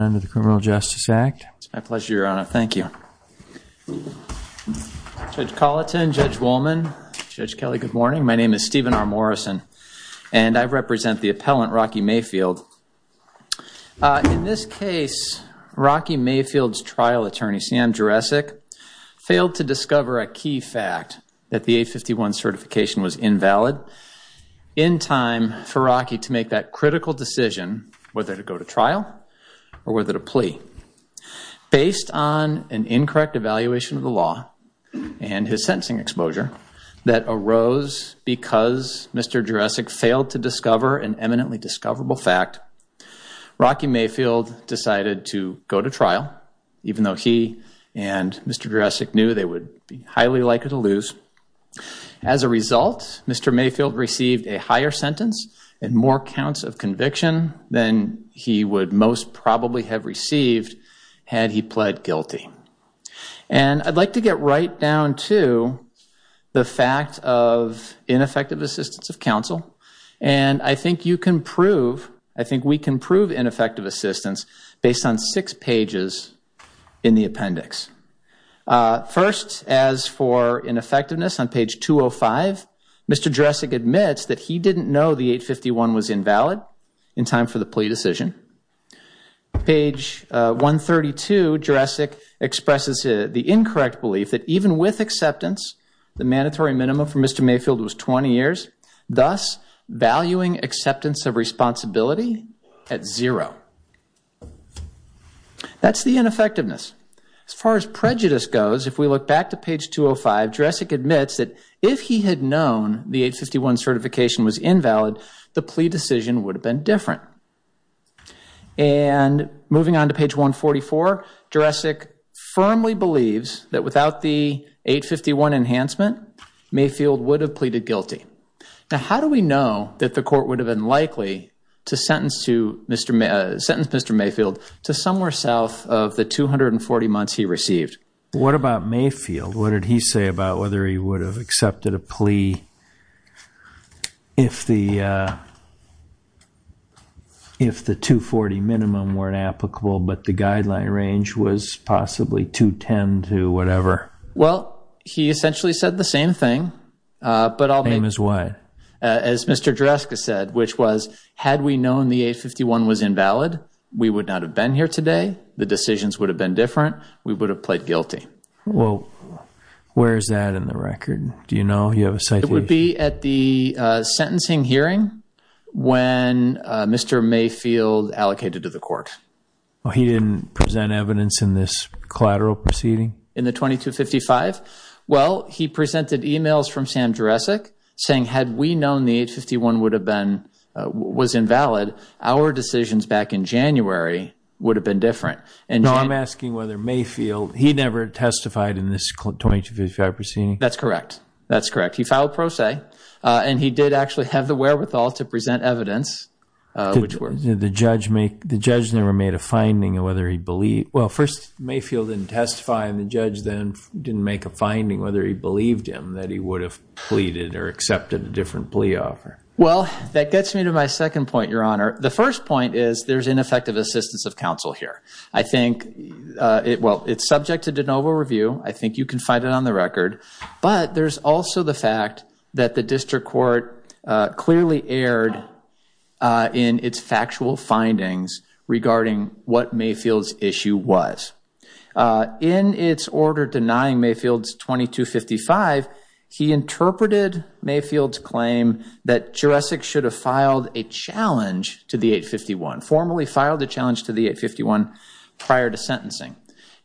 under the Criminal Justice Act. It's my pleasure, your honor. Thank you. Judge Colleton, Judge Wollman, Judge Kelly, good morning. My name is Stephen R. Morrison, and I represent the appellant Rocky Mayfield. In this case, Rocky Mayfield's trial attorney, Sam Jurassic, failed to discover a key fact that the A51 certification was invalid. In time for Rocky to make that plea, based on an incorrect evaluation of the law and his sentencing exposure that arose because Mr. Jurassic failed to discover an eminently discoverable fact, Rocky Mayfield decided to go to trial, even though he and Mr. Jurassic knew they would be highly likely to lose. As a result, Mr. Mayfield received a higher sentence and more counts of conviction than he would most probably have received had he pled guilty. And I'd like to get right down to the fact of ineffective assistance of counsel, and I think you can prove, I think we can prove ineffective assistance based on six pages in the appendix. First, as for ineffectiveness on page 205, Mr. Jurassic admits that he didn't know the A51 was invalid. In time for the plea decision, page 132, Jurassic expresses the incorrect belief that even with acceptance, the mandatory minimum for Mr. Mayfield was 20 years, thus valuing acceptance of responsibility at zero. That's the ineffectiveness. As far as prejudice goes, if we look back to page 205, Jurassic admits that if he had known the A51 certification was invalid, the situation would have been different. And moving on to page 144, Jurassic firmly believes that without the A51 enhancement, Mayfield would have pleaded guilty. Now, how do we know that the court would have been likely to sentence Mr. Mayfield to somewhere south of the 240 months he received? What about Mayfield? What did he say about whether he would have accepted a plea if the 240 minimum weren't applicable, but the guideline range was possibly 210 to whatever? Well, he essentially said the same thing, but I'll make it as wide as Mr. Jurassic said, which was, had we known the A51 was invalid, we would not have been here today. The decisions would have been different. We would have pled guilty. Well, where is that in the record? Do you know? You have a citation? It would be at the sentencing hearing when Mr. Mayfield allocated to the court. Well, he didn't present evidence in this collateral proceeding? In the 2255? Well, he presented emails from Sam Jurassic saying, had we known the A51 would have been, was invalid, our decisions back in January would have been different. I'm asking whether Mayfield, he never testified in this 2255 proceeding? That's correct. That's correct. He filed pro se, and he did actually have the wherewithal to present evidence. The judge never made a finding of whether he believed, well, first Mayfield didn't testify and the judge then didn't make a finding whether he believed him that he would have pleaded or accepted a different plea offer. Well, that gets me to my second point, your honor. The first point is there's ineffective assistance of counsel here. I think it, well, it's subject to de novo review. I think you can find it on the record, but there's also the fact that the district court clearly erred in its factual findings regarding what Mayfield's issue was. In its order denying Mayfield's 2255, he interpreted Mayfield's claim that Jurassic should have filed a challenge to the 851, formally filed the challenge to the 851 prior to sentencing.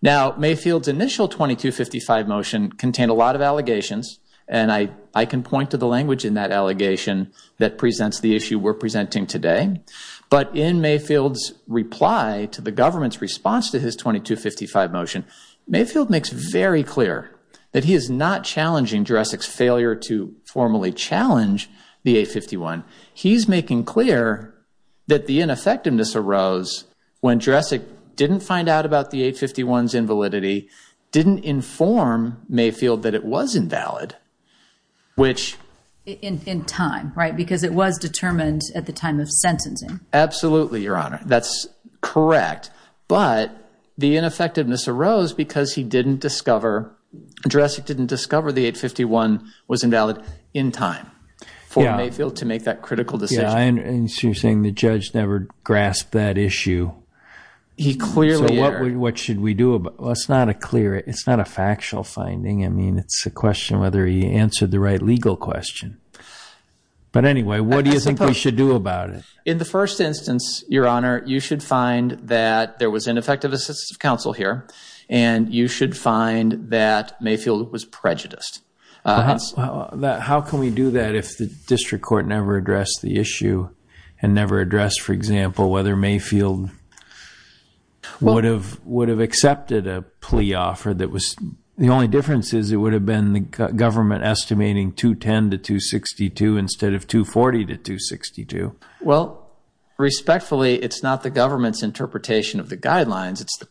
Now, Mayfield's initial 2255 motion contained a lot of allegations, and I can point to the language in that allegation that presents the issue we're presenting today. But in Mayfield's reply to the government's response to his 2255 motion, Mayfield makes very clear that he is not challenging Jurassic's failure to formally challenge the 851. He's making clear that the ineffectiveness arose when Jurassic didn't find out about the 851's invalidity, didn't inform Mayfield that it was invalid, which- In time, right? Because it was determined at the time of sentencing. Absolutely, your honor. That's correct. But the ineffectiveness arose because he didn't discover, Jurassic didn't discover the 851 was invalid in time for Mayfield to make that critical decision. Yeah, I understand. So you're saying the judge never grasped that issue. He clearly- So what should we do about- Well, it's not a factual finding. I mean, it's a question whether he answered the right legal question. But anyway, what do you think we should do about it? In the first instance, your honor, you should find that there was ineffective assistive counsel here, and you should find that Mayfield was prejudiced. How can we do that if the district court never addressed the issue and never addressed, for example, whether Mayfield would have accepted a plea offer that was- The only difference is it would have been the government estimating 210 to 262 instead of 240 to 262. Well, respectfully, it's not the government's interpretation of the guidelines. It's the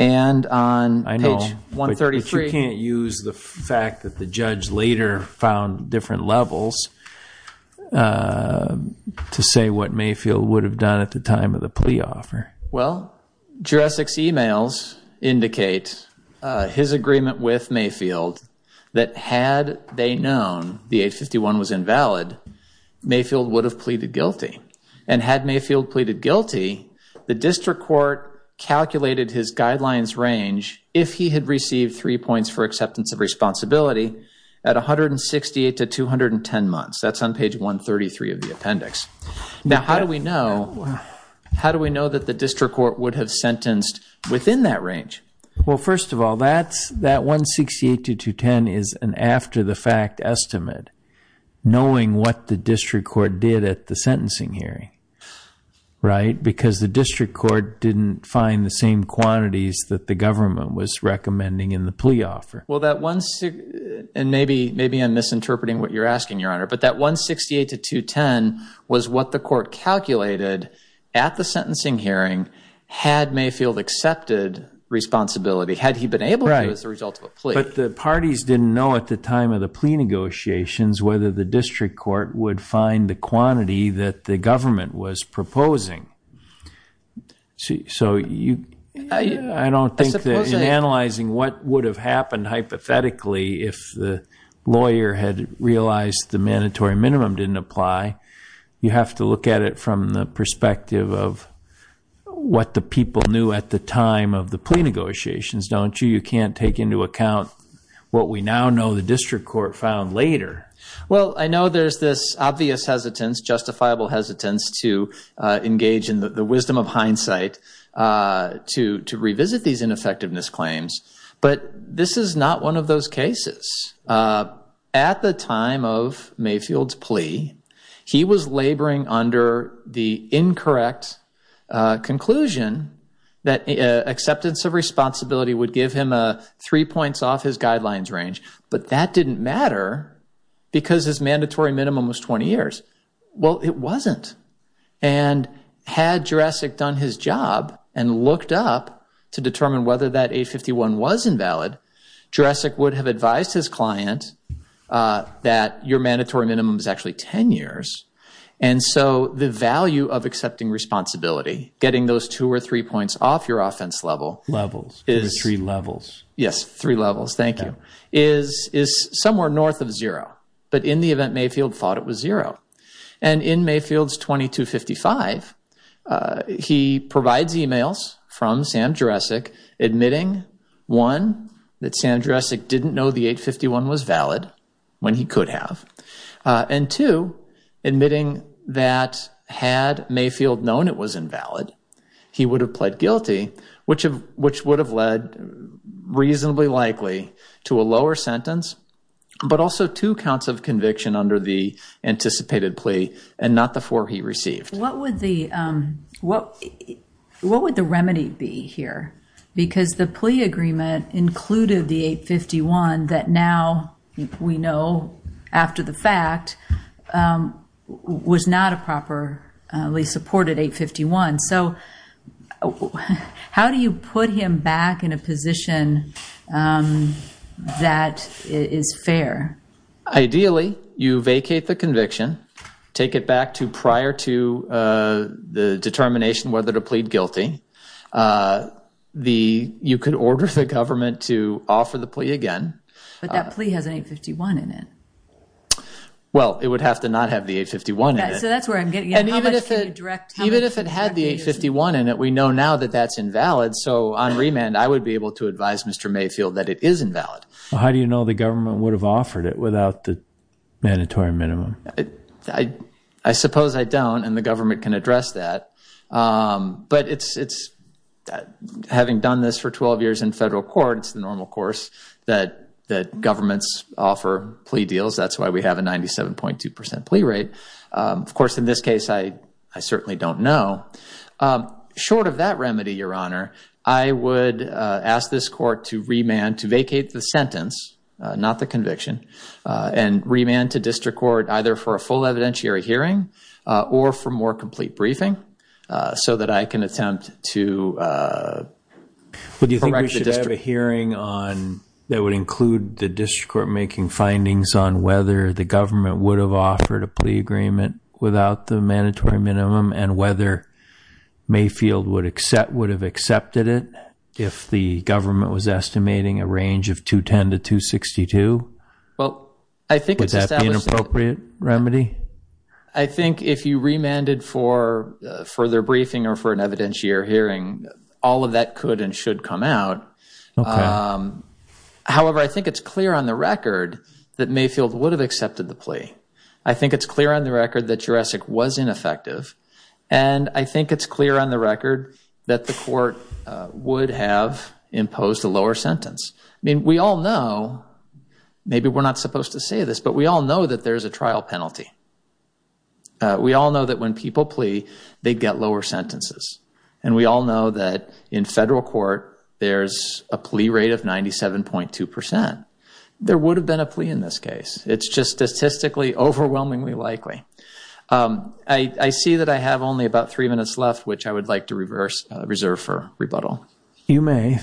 I know, but you can't use the fact that the judge later found different levels to say what Mayfield would have done at the time of the plea offer. Well, Jurassic's emails indicate his agreement with Mayfield that had they known the 851 was invalid, Mayfield would have pleaded guilty. And had Mayfield pleaded guilty, the district court calculated his guidelines range, if he had received three points for acceptance of responsibility, at 168 to 210 months. That's on page 133 of the appendix. Now, how do we know that the district court would have sentenced within that range? Well, first of all, that 168 to 210 is an after-the-fact estimate, knowing what the district court did at the sentencing hearing, right? Because the district court didn't find the same quantities that the government was recommending in the plea offer. Well, and maybe I'm misinterpreting what you're asking, Your Honor, but that 168 to 210 was what the court calculated at the sentencing hearing had Mayfield accepted responsibility, had he been able to as a result of a plea. But the parties didn't know at the time of the plea negotiations whether the district court would find the quantity that the government was proposing. So I don't think that in analyzing what would have happened hypothetically if the lawyer had realized the mandatory minimum didn't apply, you have to look at it from the perspective of what the people knew at the time of the plea negotiations, don't you? You can't take into later. Well, I know there's this obvious hesitance, justifiable hesitance to engage in the wisdom of hindsight to revisit these ineffectiveness claims, but this is not one of those cases. At the time of Mayfield's plea, he was laboring under the incorrect conclusion that acceptance of responsibility would give him three points off his guidelines range, but that didn't matter because his mandatory minimum was 20 years. Well, it wasn't. And had Jurassic done his job and looked up to determine whether that 851 was invalid, Jurassic would have advised his client that your mandatory minimum is actually 10 years. And so the value of accepting responsibility, getting those two or three points off your is somewhere north of zero, but in the event Mayfield thought it was zero. And in Mayfield's 2255, he provides emails from Sam Jurassic admitting, one, that Sam Jurassic didn't know the 851 was valid when he could have, and two, admitting that had Mayfield known it was but also two counts of conviction under the anticipated plea and not the four he received. What would the remedy be here? Because the plea agreement included the 851 that now we know, after the fact, was not a properly supported 851. So how do you put him back in a position that is fair? Ideally, you vacate the conviction, take it back to prior to the determination whether to plead guilty. You could order the government to offer the plea again. But that plea has an 851 in it. Well, it would have to not have the 851 in it. So that's where I'm getting at. How much can you direct? Even if it had the 851 in it, we know now that that's invalid. So on remand, I would be able to advise Mr. Mayfield that it is invalid. How do you know the government would have offered it without the mandatory minimum? I suppose I don't, and the government can address that. But having done this for 12 years in federal court, it's the normal course that governments offer plea deals. That's why we have a 97.2% plea rate. Of course, in this case, I certainly don't know. Short of that remedy, Your Honor, I would ask this court to remand, to vacate the sentence, not the conviction, and remand to district court either for a full evidentiary hearing or for more complete briefing so that I can attempt to correct the district. Do you think we should have a hearing that would include the district court making findings on whether the government would have offered a plea agreement without the mandatory minimum and whether Mayfield would have accepted it if the government was estimating a range of 210 to 262? Well, I think it's established— Would that be an appropriate remedy? I think if you remanded for further briefing or for an evidentiary hearing, all of that could and should come out. However, I think it's clear on the record that Mayfield would have accepted the plea. I think it's clear on the record that Jurassic was ineffective. And I think it's clear on the record that the court would have imposed a lower sentence. I mean, we all know—maybe we're not supposed to say this—but we all know that there's a trial penalty. We all know that when people plea, they get lower sentences. And we all know that in federal court, there's a plea rate of 97.2 percent. There would have been a plea in this case. I see that I have only about three minutes left, which I would like to reserve for rebuttal. You may.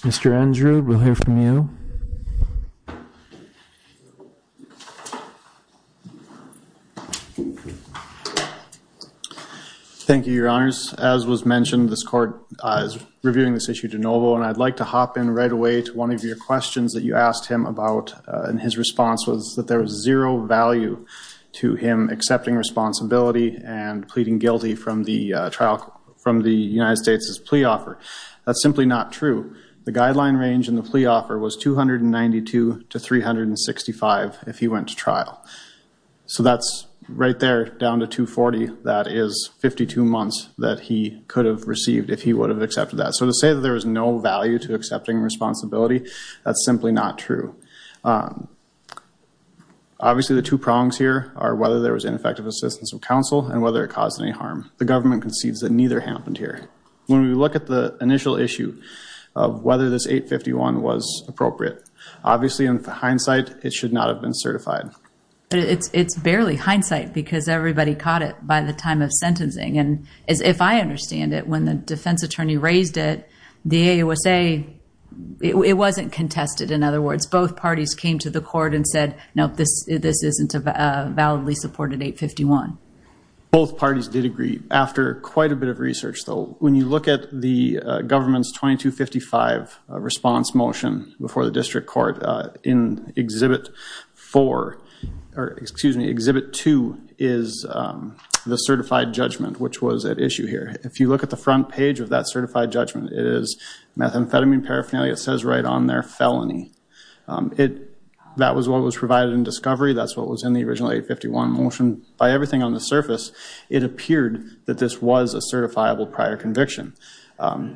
Mr. Andrew, we'll hear from you. Thank you, Your Honors. As was mentioned, this court is reviewing this issue de novo, and I'd like to hop in right away to one of your questions that you asked him about. And his response was that there was zero value to him accepting responsibility and pleading guilty from the United States' plea offer. That's simply not true. The guideline range in the plea offer was 292 to 365 if he went to trial. So that's right there, down to 240. That is 52 months that he could have received if he would have accepted that. So to say that there was no value to accepting responsibility, that's simply not true. Obviously, the two prongs here are whether there was ineffective assistance of counsel and whether it caused any harm. The government concedes that neither happened here. When we look at the initial issue of whether this 851 was appropriate, obviously, in hindsight, it should not have been certified. It's barely hindsight because everybody caught it by the time of sentencing. And if I understand it, when the defense attorney raised it, the AOSA, it wasn't contested, in other words. Both parties came to the court and said, nope, this isn't a validly supported 851. Both parties did agree. After quite a bit of research, though, when you look at the government's 2255 response motion before the district court in Exhibit 4, or excuse me, Exhibit 2, is the certified judgment, which was at issue here. If you look at the front page of that certified judgment, it is methamphetamine paraphernalia. It says right on there, felony. That was what was provided in discovery. That's what was in the original 851 motion. By everything on the surface, it appeared that this was a certifiable prior conviction.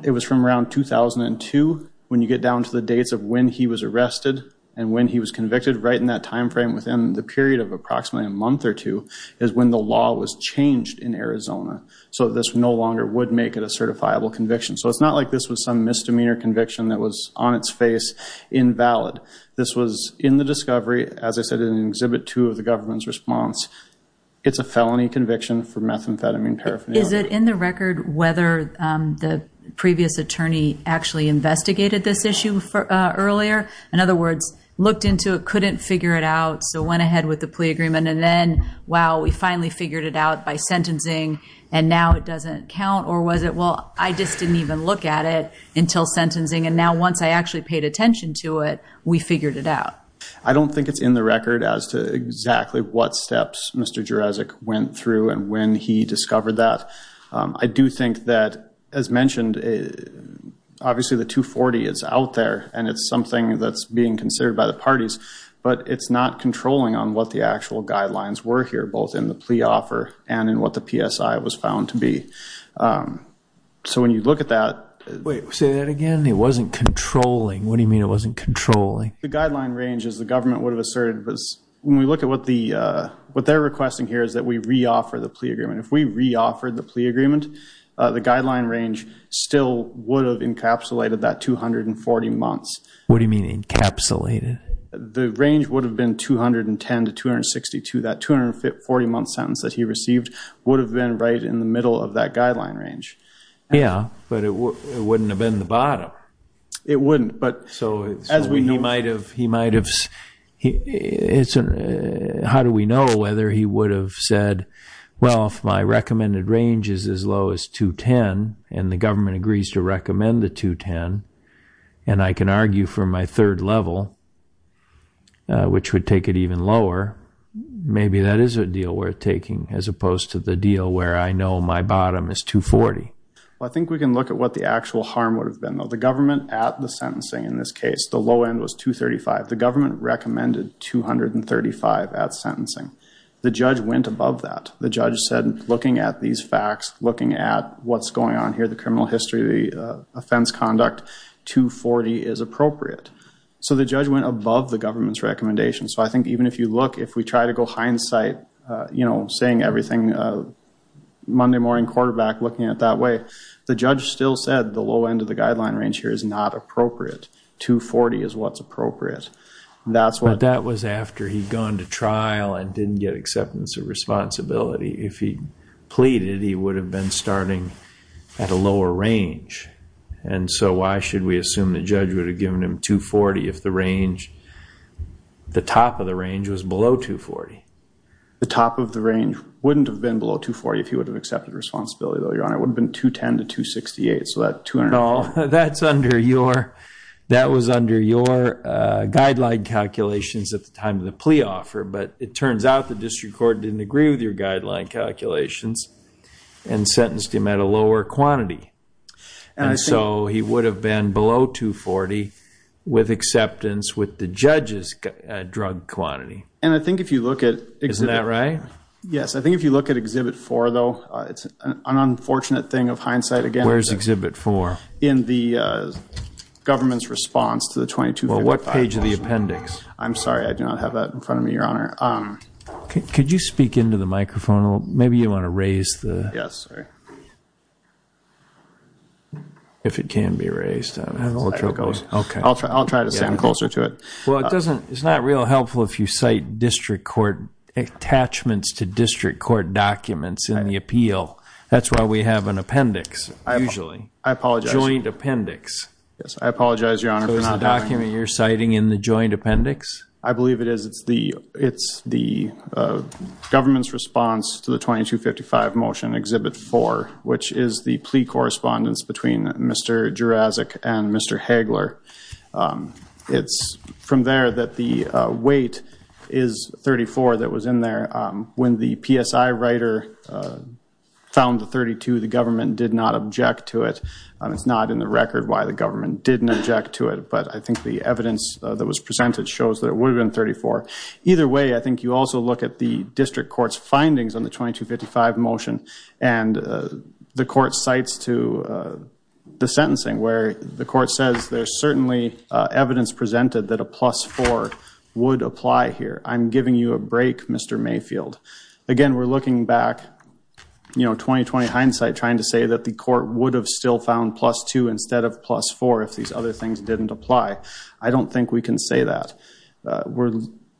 It was from around 2002, when you get down to the dates of when he was arrested and when he was convicted, right in that time frame within the Arizona. So this no longer would make it a certifiable conviction. So it's not like this was some misdemeanor conviction that was on its face, invalid. This was in the discovery, as I said, in Exhibit 2 of the government's response. It's a felony conviction for methamphetamine paraphernalia. Is it in the record whether the previous attorney actually investigated this issue earlier? In other words, looked into it, couldn't figure it out, so went ahead with the sentencing, and now it doesn't count? Or was it, well, I just didn't even look at it until sentencing, and now once I actually paid attention to it, we figured it out? I don't think it's in the record as to exactly what steps Mr. Jerezik went through and when he discovered that. I do think that, as mentioned, obviously the 240 is out there, and it's something that's being considered by the parties, but it's not controlling on what the actual guidelines were here, both in the plea was found to be. So when you look at that... Wait, say that again. It wasn't controlling. What do you mean it wasn't controlling? The guideline range, as the government would have asserted, was when we look at what they're requesting here is that we re-offer the plea agreement. If we re-offered the plea agreement, the guideline range still would have encapsulated that 240 months. What do you mean encapsulated? The range would have been 210 to 262. That 240-month sentence that he received would have been right in the middle of that guideline range. Yeah, but it wouldn't have been the bottom. It wouldn't, but as we know... How do we know whether he would have said, well, if my recommended range is as low as 210 and the government agrees to recommend the 210, and I can argue for my third level, which would take it even lower, maybe that is a deal worth taking as opposed to the deal where I know my bottom is 240. I think we can look at what the actual harm would have been. The government at the sentencing in this case, the low end was 235. The government recommended 235 at sentencing. The judge went above that. The judge said, looking at these facts, looking at what's going on here, criminal history, the offense conduct, 240 is appropriate. So the judge went above the government's recommendation. So I think even if you look, if we try to go hindsight, saying everything Monday morning quarterback, looking at it that way, the judge still said the low end of the guideline range here is not appropriate. 240 is what's appropriate. That's what... But that was after he'd gone to trial and didn't get acceptance of responsibility. If he pleaded, he would have been starting at a lower range. And so why should we assume the judge would have given him 240 if the range, the top of the range was below 240? The top of the range wouldn't have been below 240 if he would have accepted responsibility, though, Your Honor. It would have been 210 to 268. So that 200... No, that's under your, that was under your guideline calculations at the time of the plea offer. But it turns out the district court didn't with your guideline calculations and sentenced him at a lower quantity. And so he would have been below 240 with acceptance with the judge's drug quantity. And I think if you look at... Isn't that right? Yes. I think if you look at Exhibit 4, though, it's an unfortunate thing of hindsight again. Where's Exhibit 4? In the government's response to the 2255... Well, what page of the appendix? I'm sorry. I do not have that in front of me, Your Honor. Could you speak into the microphone? Maybe you want to raise the... Yes. If it can be raised. I'll try to stand closer to it. Well, it doesn't, it's not real helpful if you cite district court attachments to district court documents in the appeal. That's why we have an appendix, usually. I apologize. Joint appendix. Yes, I apologize, Your Honor, for not having... The government's response to the 2255 motion, Exhibit 4, which is the plea correspondence between Mr. Jurazic and Mr. Hagler. It's from there that the weight is 34 that was in there. When the PSI writer found the 32, the government did not object to it. It's not in the record why the government didn't object to it. But I think the evidence that was presented shows that it also... I think you also look at the district court's findings on the 2255 motion and the court cites to the sentencing where the court says there's certainly evidence presented that a plus four would apply here. I'm giving you a break, Mr. Mayfield. Again, we're looking back, you know, 20-20 hindsight trying to say that the court would have still found plus two instead of plus four if these other things didn't apply. I don't think we can say that.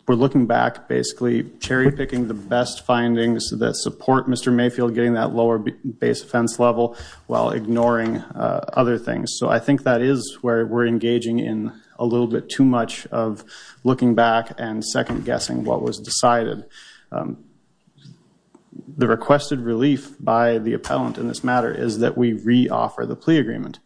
We're looking back, basically, cherry-picking the best findings that support Mr. Mayfield getting that lower base offense level while ignoring other things. So I think that is where we're engaging in a little bit too much of looking back and second-guessing what was decided. The requested relief by the appellant in this matter is that we re-offer the plea agreement.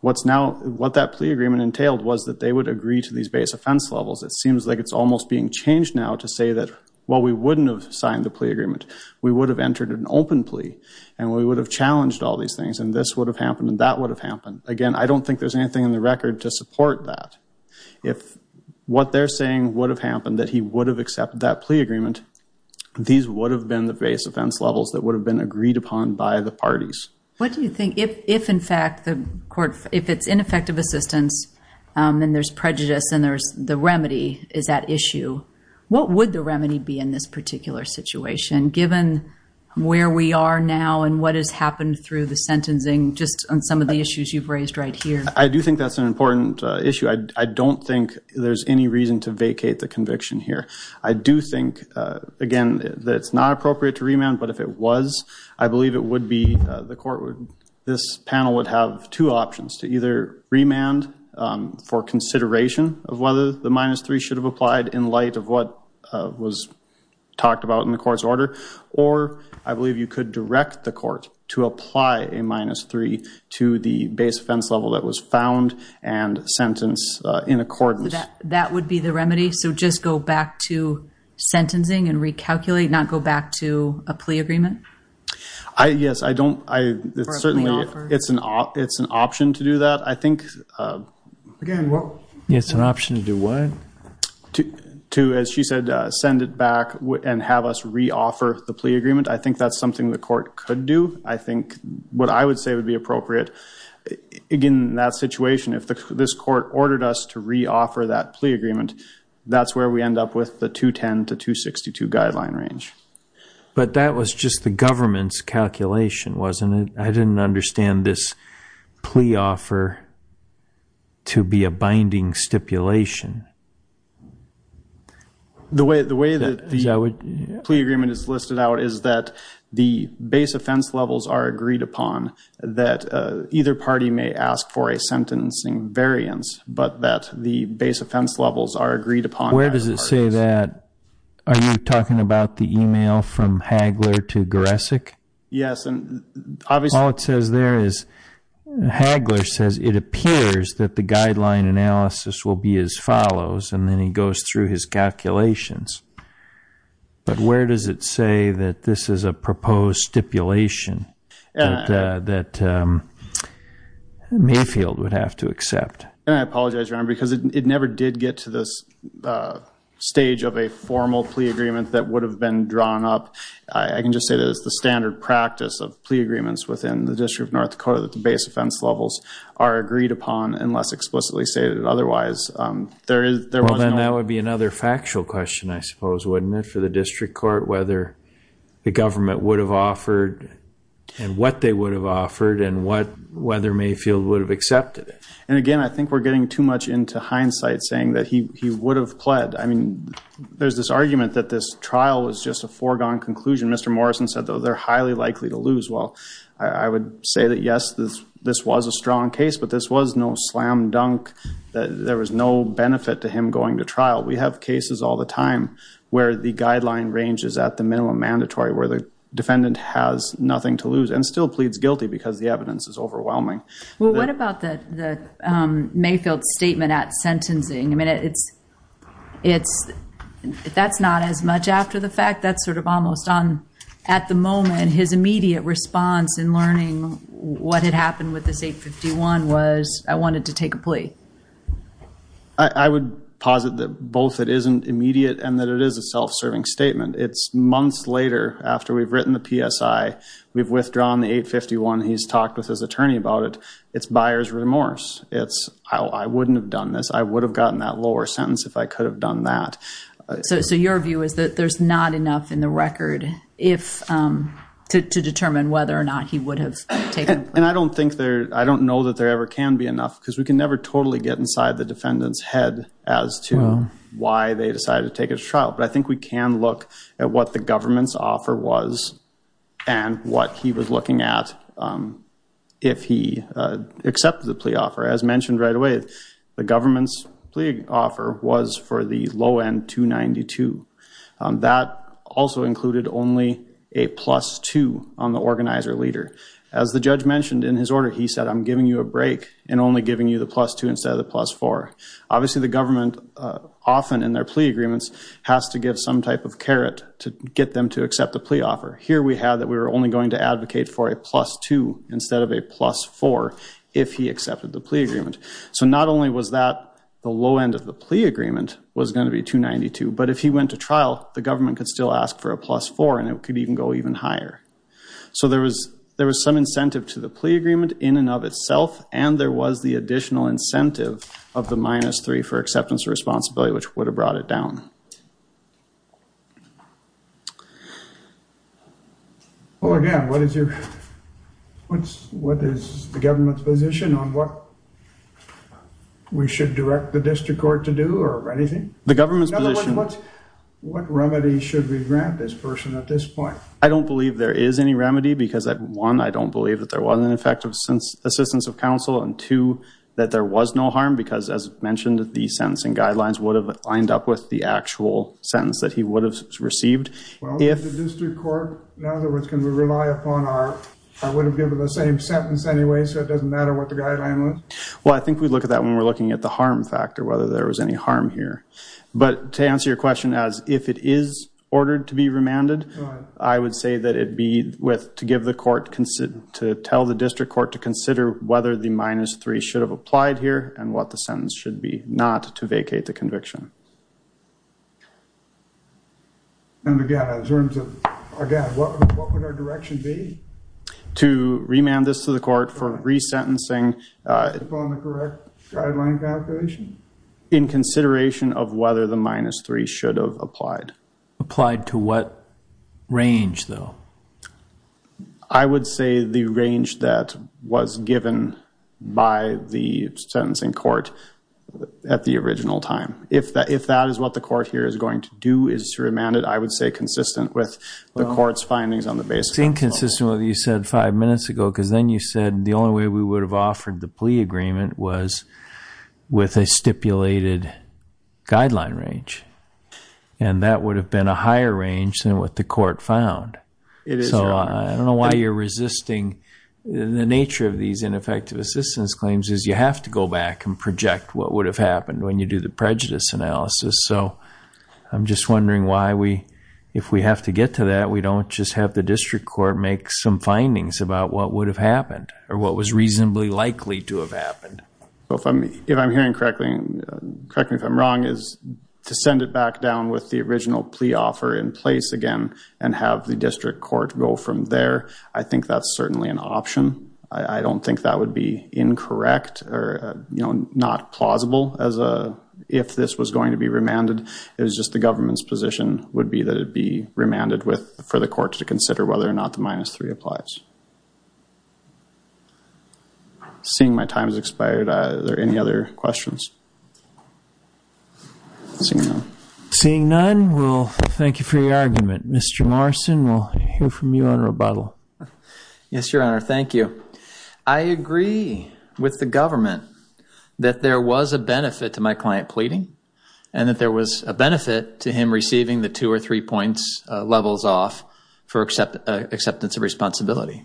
What's now... What that plea agreement entailed was that they would agree to these base offense levels. It seems like it's almost being changed now to say that, well, we wouldn't have signed the plea agreement. We would have entered an open plea and we would have challenged all these things and this would have happened and that would have happened. Again, I don't think there's anything in the record to support that. If what they're saying would have happened, that he would have accepted that plea agreement, these would have been the base offense levels that would have been If it's ineffective assistance and there's prejudice and there's the remedy, is that issue, what would the remedy be in this particular situation given where we are now and what has happened through the sentencing just on some of the issues you've raised right here? I do think that's an important issue. I don't think there's any reason to vacate the conviction here. I do think, again, that it's not appropriate to remand, but if it was, I believe it would be, the court would, this panel would have two options to either remand for consideration of whether the minus three should have applied in light of what was talked about in the court's order or I believe you could direct the court to apply a minus three to the base offense level that was found and sentenced in accordance. That would be the remedy? So just go back to certainly it's an option to do that. I think, again, it's an option to do what? To, as she said, send it back and have us re-offer the plea agreement. I think that's something the court could do. I think what I would say would be appropriate in that situation. If this court ordered us to re-offer that plea agreement, that's where we end up with the 210 to 262 I didn't understand this plea offer to be a binding stipulation. The way that the plea agreement is listed out is that the base offense levels are agreed upon, that either party may ask for a sentencing variance, but that the base offense levels are agreed upon. Where does it say that? Are you talking about the email from Hagler to Goresick? Yes. All it says there is Hagler says it appears that the guideline analysis will be as follows and then he goes through his calculations, but where does it say that this is a proposed stipulation that Mayfield would have to accept? I apologize, Your Honor, because it never did get to this stage of a formal plea agreement that would have been drawn up. I can just say that it's the standard practice of plea agreements within the District of North Dakota that the base offense levels are agreed upon unless explicitly stated otherwise. Well, then that would be another factual question, I suppose, wouldn't it, for the district court whether the government would have offered and what they would have offered and whether Mayfield would have accepted it. And again, I think we're getting too much into hindsight saying that he would have pled. I mean, there's this argument that this trial was just a foregone conclusion. Mr. Morrison said, they're highly likely to lose. Well, I would say that, yes, this was a strong case, but this was no slam dunk. There was no benefit to him going to trial. We have cases all the time where the guideline range is at the minimum mandatory where the defendant has nothing to lose and still pleads guilty because the evidence is overwhelming. Well, what about the Mayfield statement at the moment, his immediate response in learning what had happened with this 851 was, I wanted to take a plea? I would posit that both it isn't immediate and that it is a self-serving statement. It's months later after we've written the PSI, we've withdrawn the 851, he's talked with his attorney about it. It's buyer's remorse. It's, I wouldn't have done this. I would have gotten that lower sentence if I could have done that. So your view is that there's not enough in the to determine whether or not he would have taken. And I don't think there, I don't know that there ever can be enough because we can never totally get inside the defendant's head as to why they decided to take his trial. But I think we can look at what the government's offer was and what he was looking at if he accepted the plea offer. As mentioned right away, the government's plea on the organizer leader. As the judge mentioned in his order, he said, I'm giving you a break and only giving you the plus two instead of the plus four. Obviously the government often in their plea agreements has to give some type of carrot to get them to accept the plea offer. Here we have that we were only going to advocate for a plus two instead of a plus four if he accepted the plea agreement. So not only was that the low end of the plea agreement was going to be 292, but if he went to trial, the government could still ask for a plus four and it could even go higher. So there was some incentive to the plea agreement in and of itself. And there was the additional incentive of the minus three for acceptance of responsibility, which would have brought it down. Well, again, what is the government's position on what we should direct the district court to do or anything? The government's position. What remedy should we I don't believe there is any remedy because one, I don't believe that there was an effective assistance of counsel and two, that there was no harm because as mentioned, the sentencing guidelines would have lined up with the actual sentence that he would have received. Well, if the district court, in other words, can we rely upon our, I would have given the same sentence anyway, so it doesn't matter what the guideline was. Well, I think we'd look at that when we're looking at the harm factor, whether there was any harm here. But to answer your question as if it is I would say that it'd be with, to give the court, to tell the district court to consider whether the minus three should have applied here and what the sentence should be not to vacate the conviction. And again, in terms of, again, what would our direction be? To remand this to the court for resentencing. Upon the correct guideline calculation? In consideration of whether the minus three should have applied. Applied to what range though? I would say the range that was given by the sentencing court at the original time. If that is what the court here is going to do, is to remand it, I would say consistent with the court's findings on the basic. It's inconsistent with what you said five minutes ago because then you said the only way we would have offered the And that would have been a higher range than what the court found. So I don't know why you're resisting the nature of these ineffective assistance claims is you have to go back and project what would have happened when you do the prejudice analysis. So I'm just wondering why we, if we have to get to that, we don't just have the district court make some findings about what would have happened or what was reasonably likely to have happened. If I'm hearing correctly, correct me if I'm wrong, is to send it back down with the original plea offer in place again and have the district court go from there. I think that's certainly an option. I don't think that would be incorrect or not plausible as a if this was going to be remanded. It was just the government's position would be that it be remanded with for the court to consider whether or not the minus three applies. Seeing my time has expired, are there any other questions? Seeing none, we'll thank you for your argument. Mr. Morrison, we'll hear from you on rebuttal. Yes, your honor. Thank you. I agree with the government that there was a benefit to my client pleading and that there was a benefit to him receiving the two or three points levels off for acceptance of responsibility.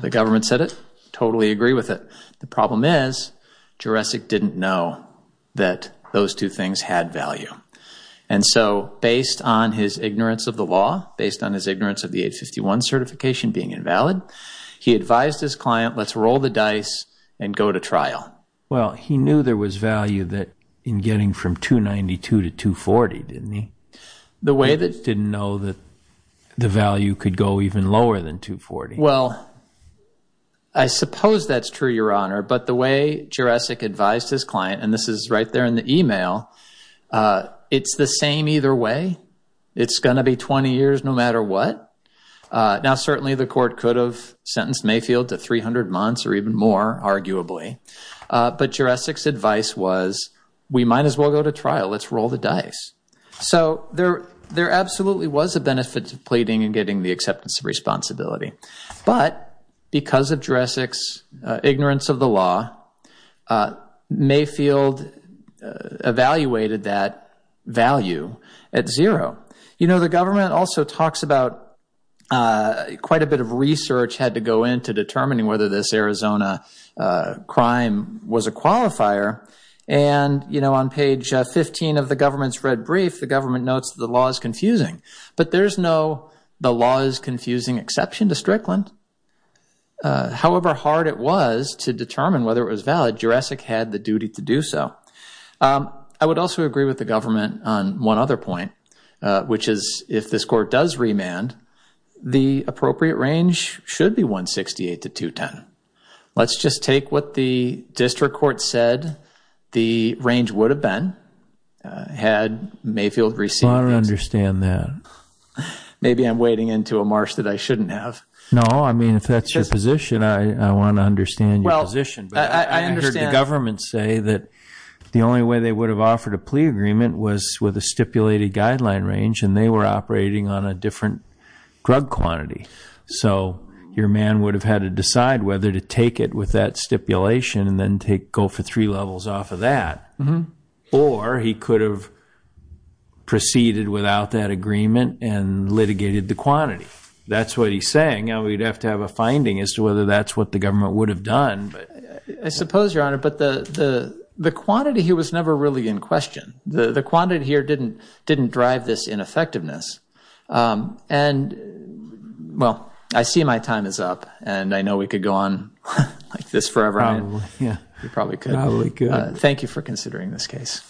The government said it. Totally agree with it. The problem is, Jurecic didn't know that those two things had value. And so based on his ignorance of the law, based on his ignorance of the 851 certification being invalid, he advised his client, let's roll the dice and go to trial. Well, he knew there was value that in getting from 292 to 240, didn't he? He just didn't know that the value could go even lower than 240. Well, I suppose that's true, your honor. But the way Jurecic advised his client, and this is right there in the email, it's the same either way. It's going to be 20 years no matter what. Now, certainly the court could have sentenced Mayfield to 300 months or even more, arguably. But Jurecic's advice was, we might as well go to trial. Let's roll the dice. So there absolutely was a benefit to pleading and getting the acceptance of responsibility. But because of Jurecic's ignorance of the law, Mayfield evaluated that value at zero. You know, the government also talks about quite a bit of research had to go into determining whether this Arizona crime was a qualifier. And, you know, on page 15 of the government's red brief, the government notes the law is confusing. But there's no the law is confusing exception to Strickland. However hard it was to determine whether it was valid, Jurecic had the duty to do so. I would also agree with the government on one other point, which is if this court does remand, the appropriate range should be 168 to 210. Let's just take what the district court said the range would have been had Mayfield received. I want to understand that. Maybe I'm wading into a marsh that I shouldn't have. No, I mean, if that's your position, I want to understand your position. I heard the government say that the only way they would have offered a plea agreement was with a stipulated guideline range, and they were operating on a different drug quantity. So your man would have had to decide whether to take it with that stipulation and then go for three levels off of that. Or he could have proceeded without that agreement and litigated the quantity. That's what he's saying. Now we'd have to have a finding as to whether that's what the government would have done. I suppose, Your Honor, but the quantity here was never really in question. The quantity here didn't drive this ineffectiveness. And, well, I see my time is up, and I know we could go on like this forever. Probably, yeah. We probably could. Probably could. Thank you for considering this case.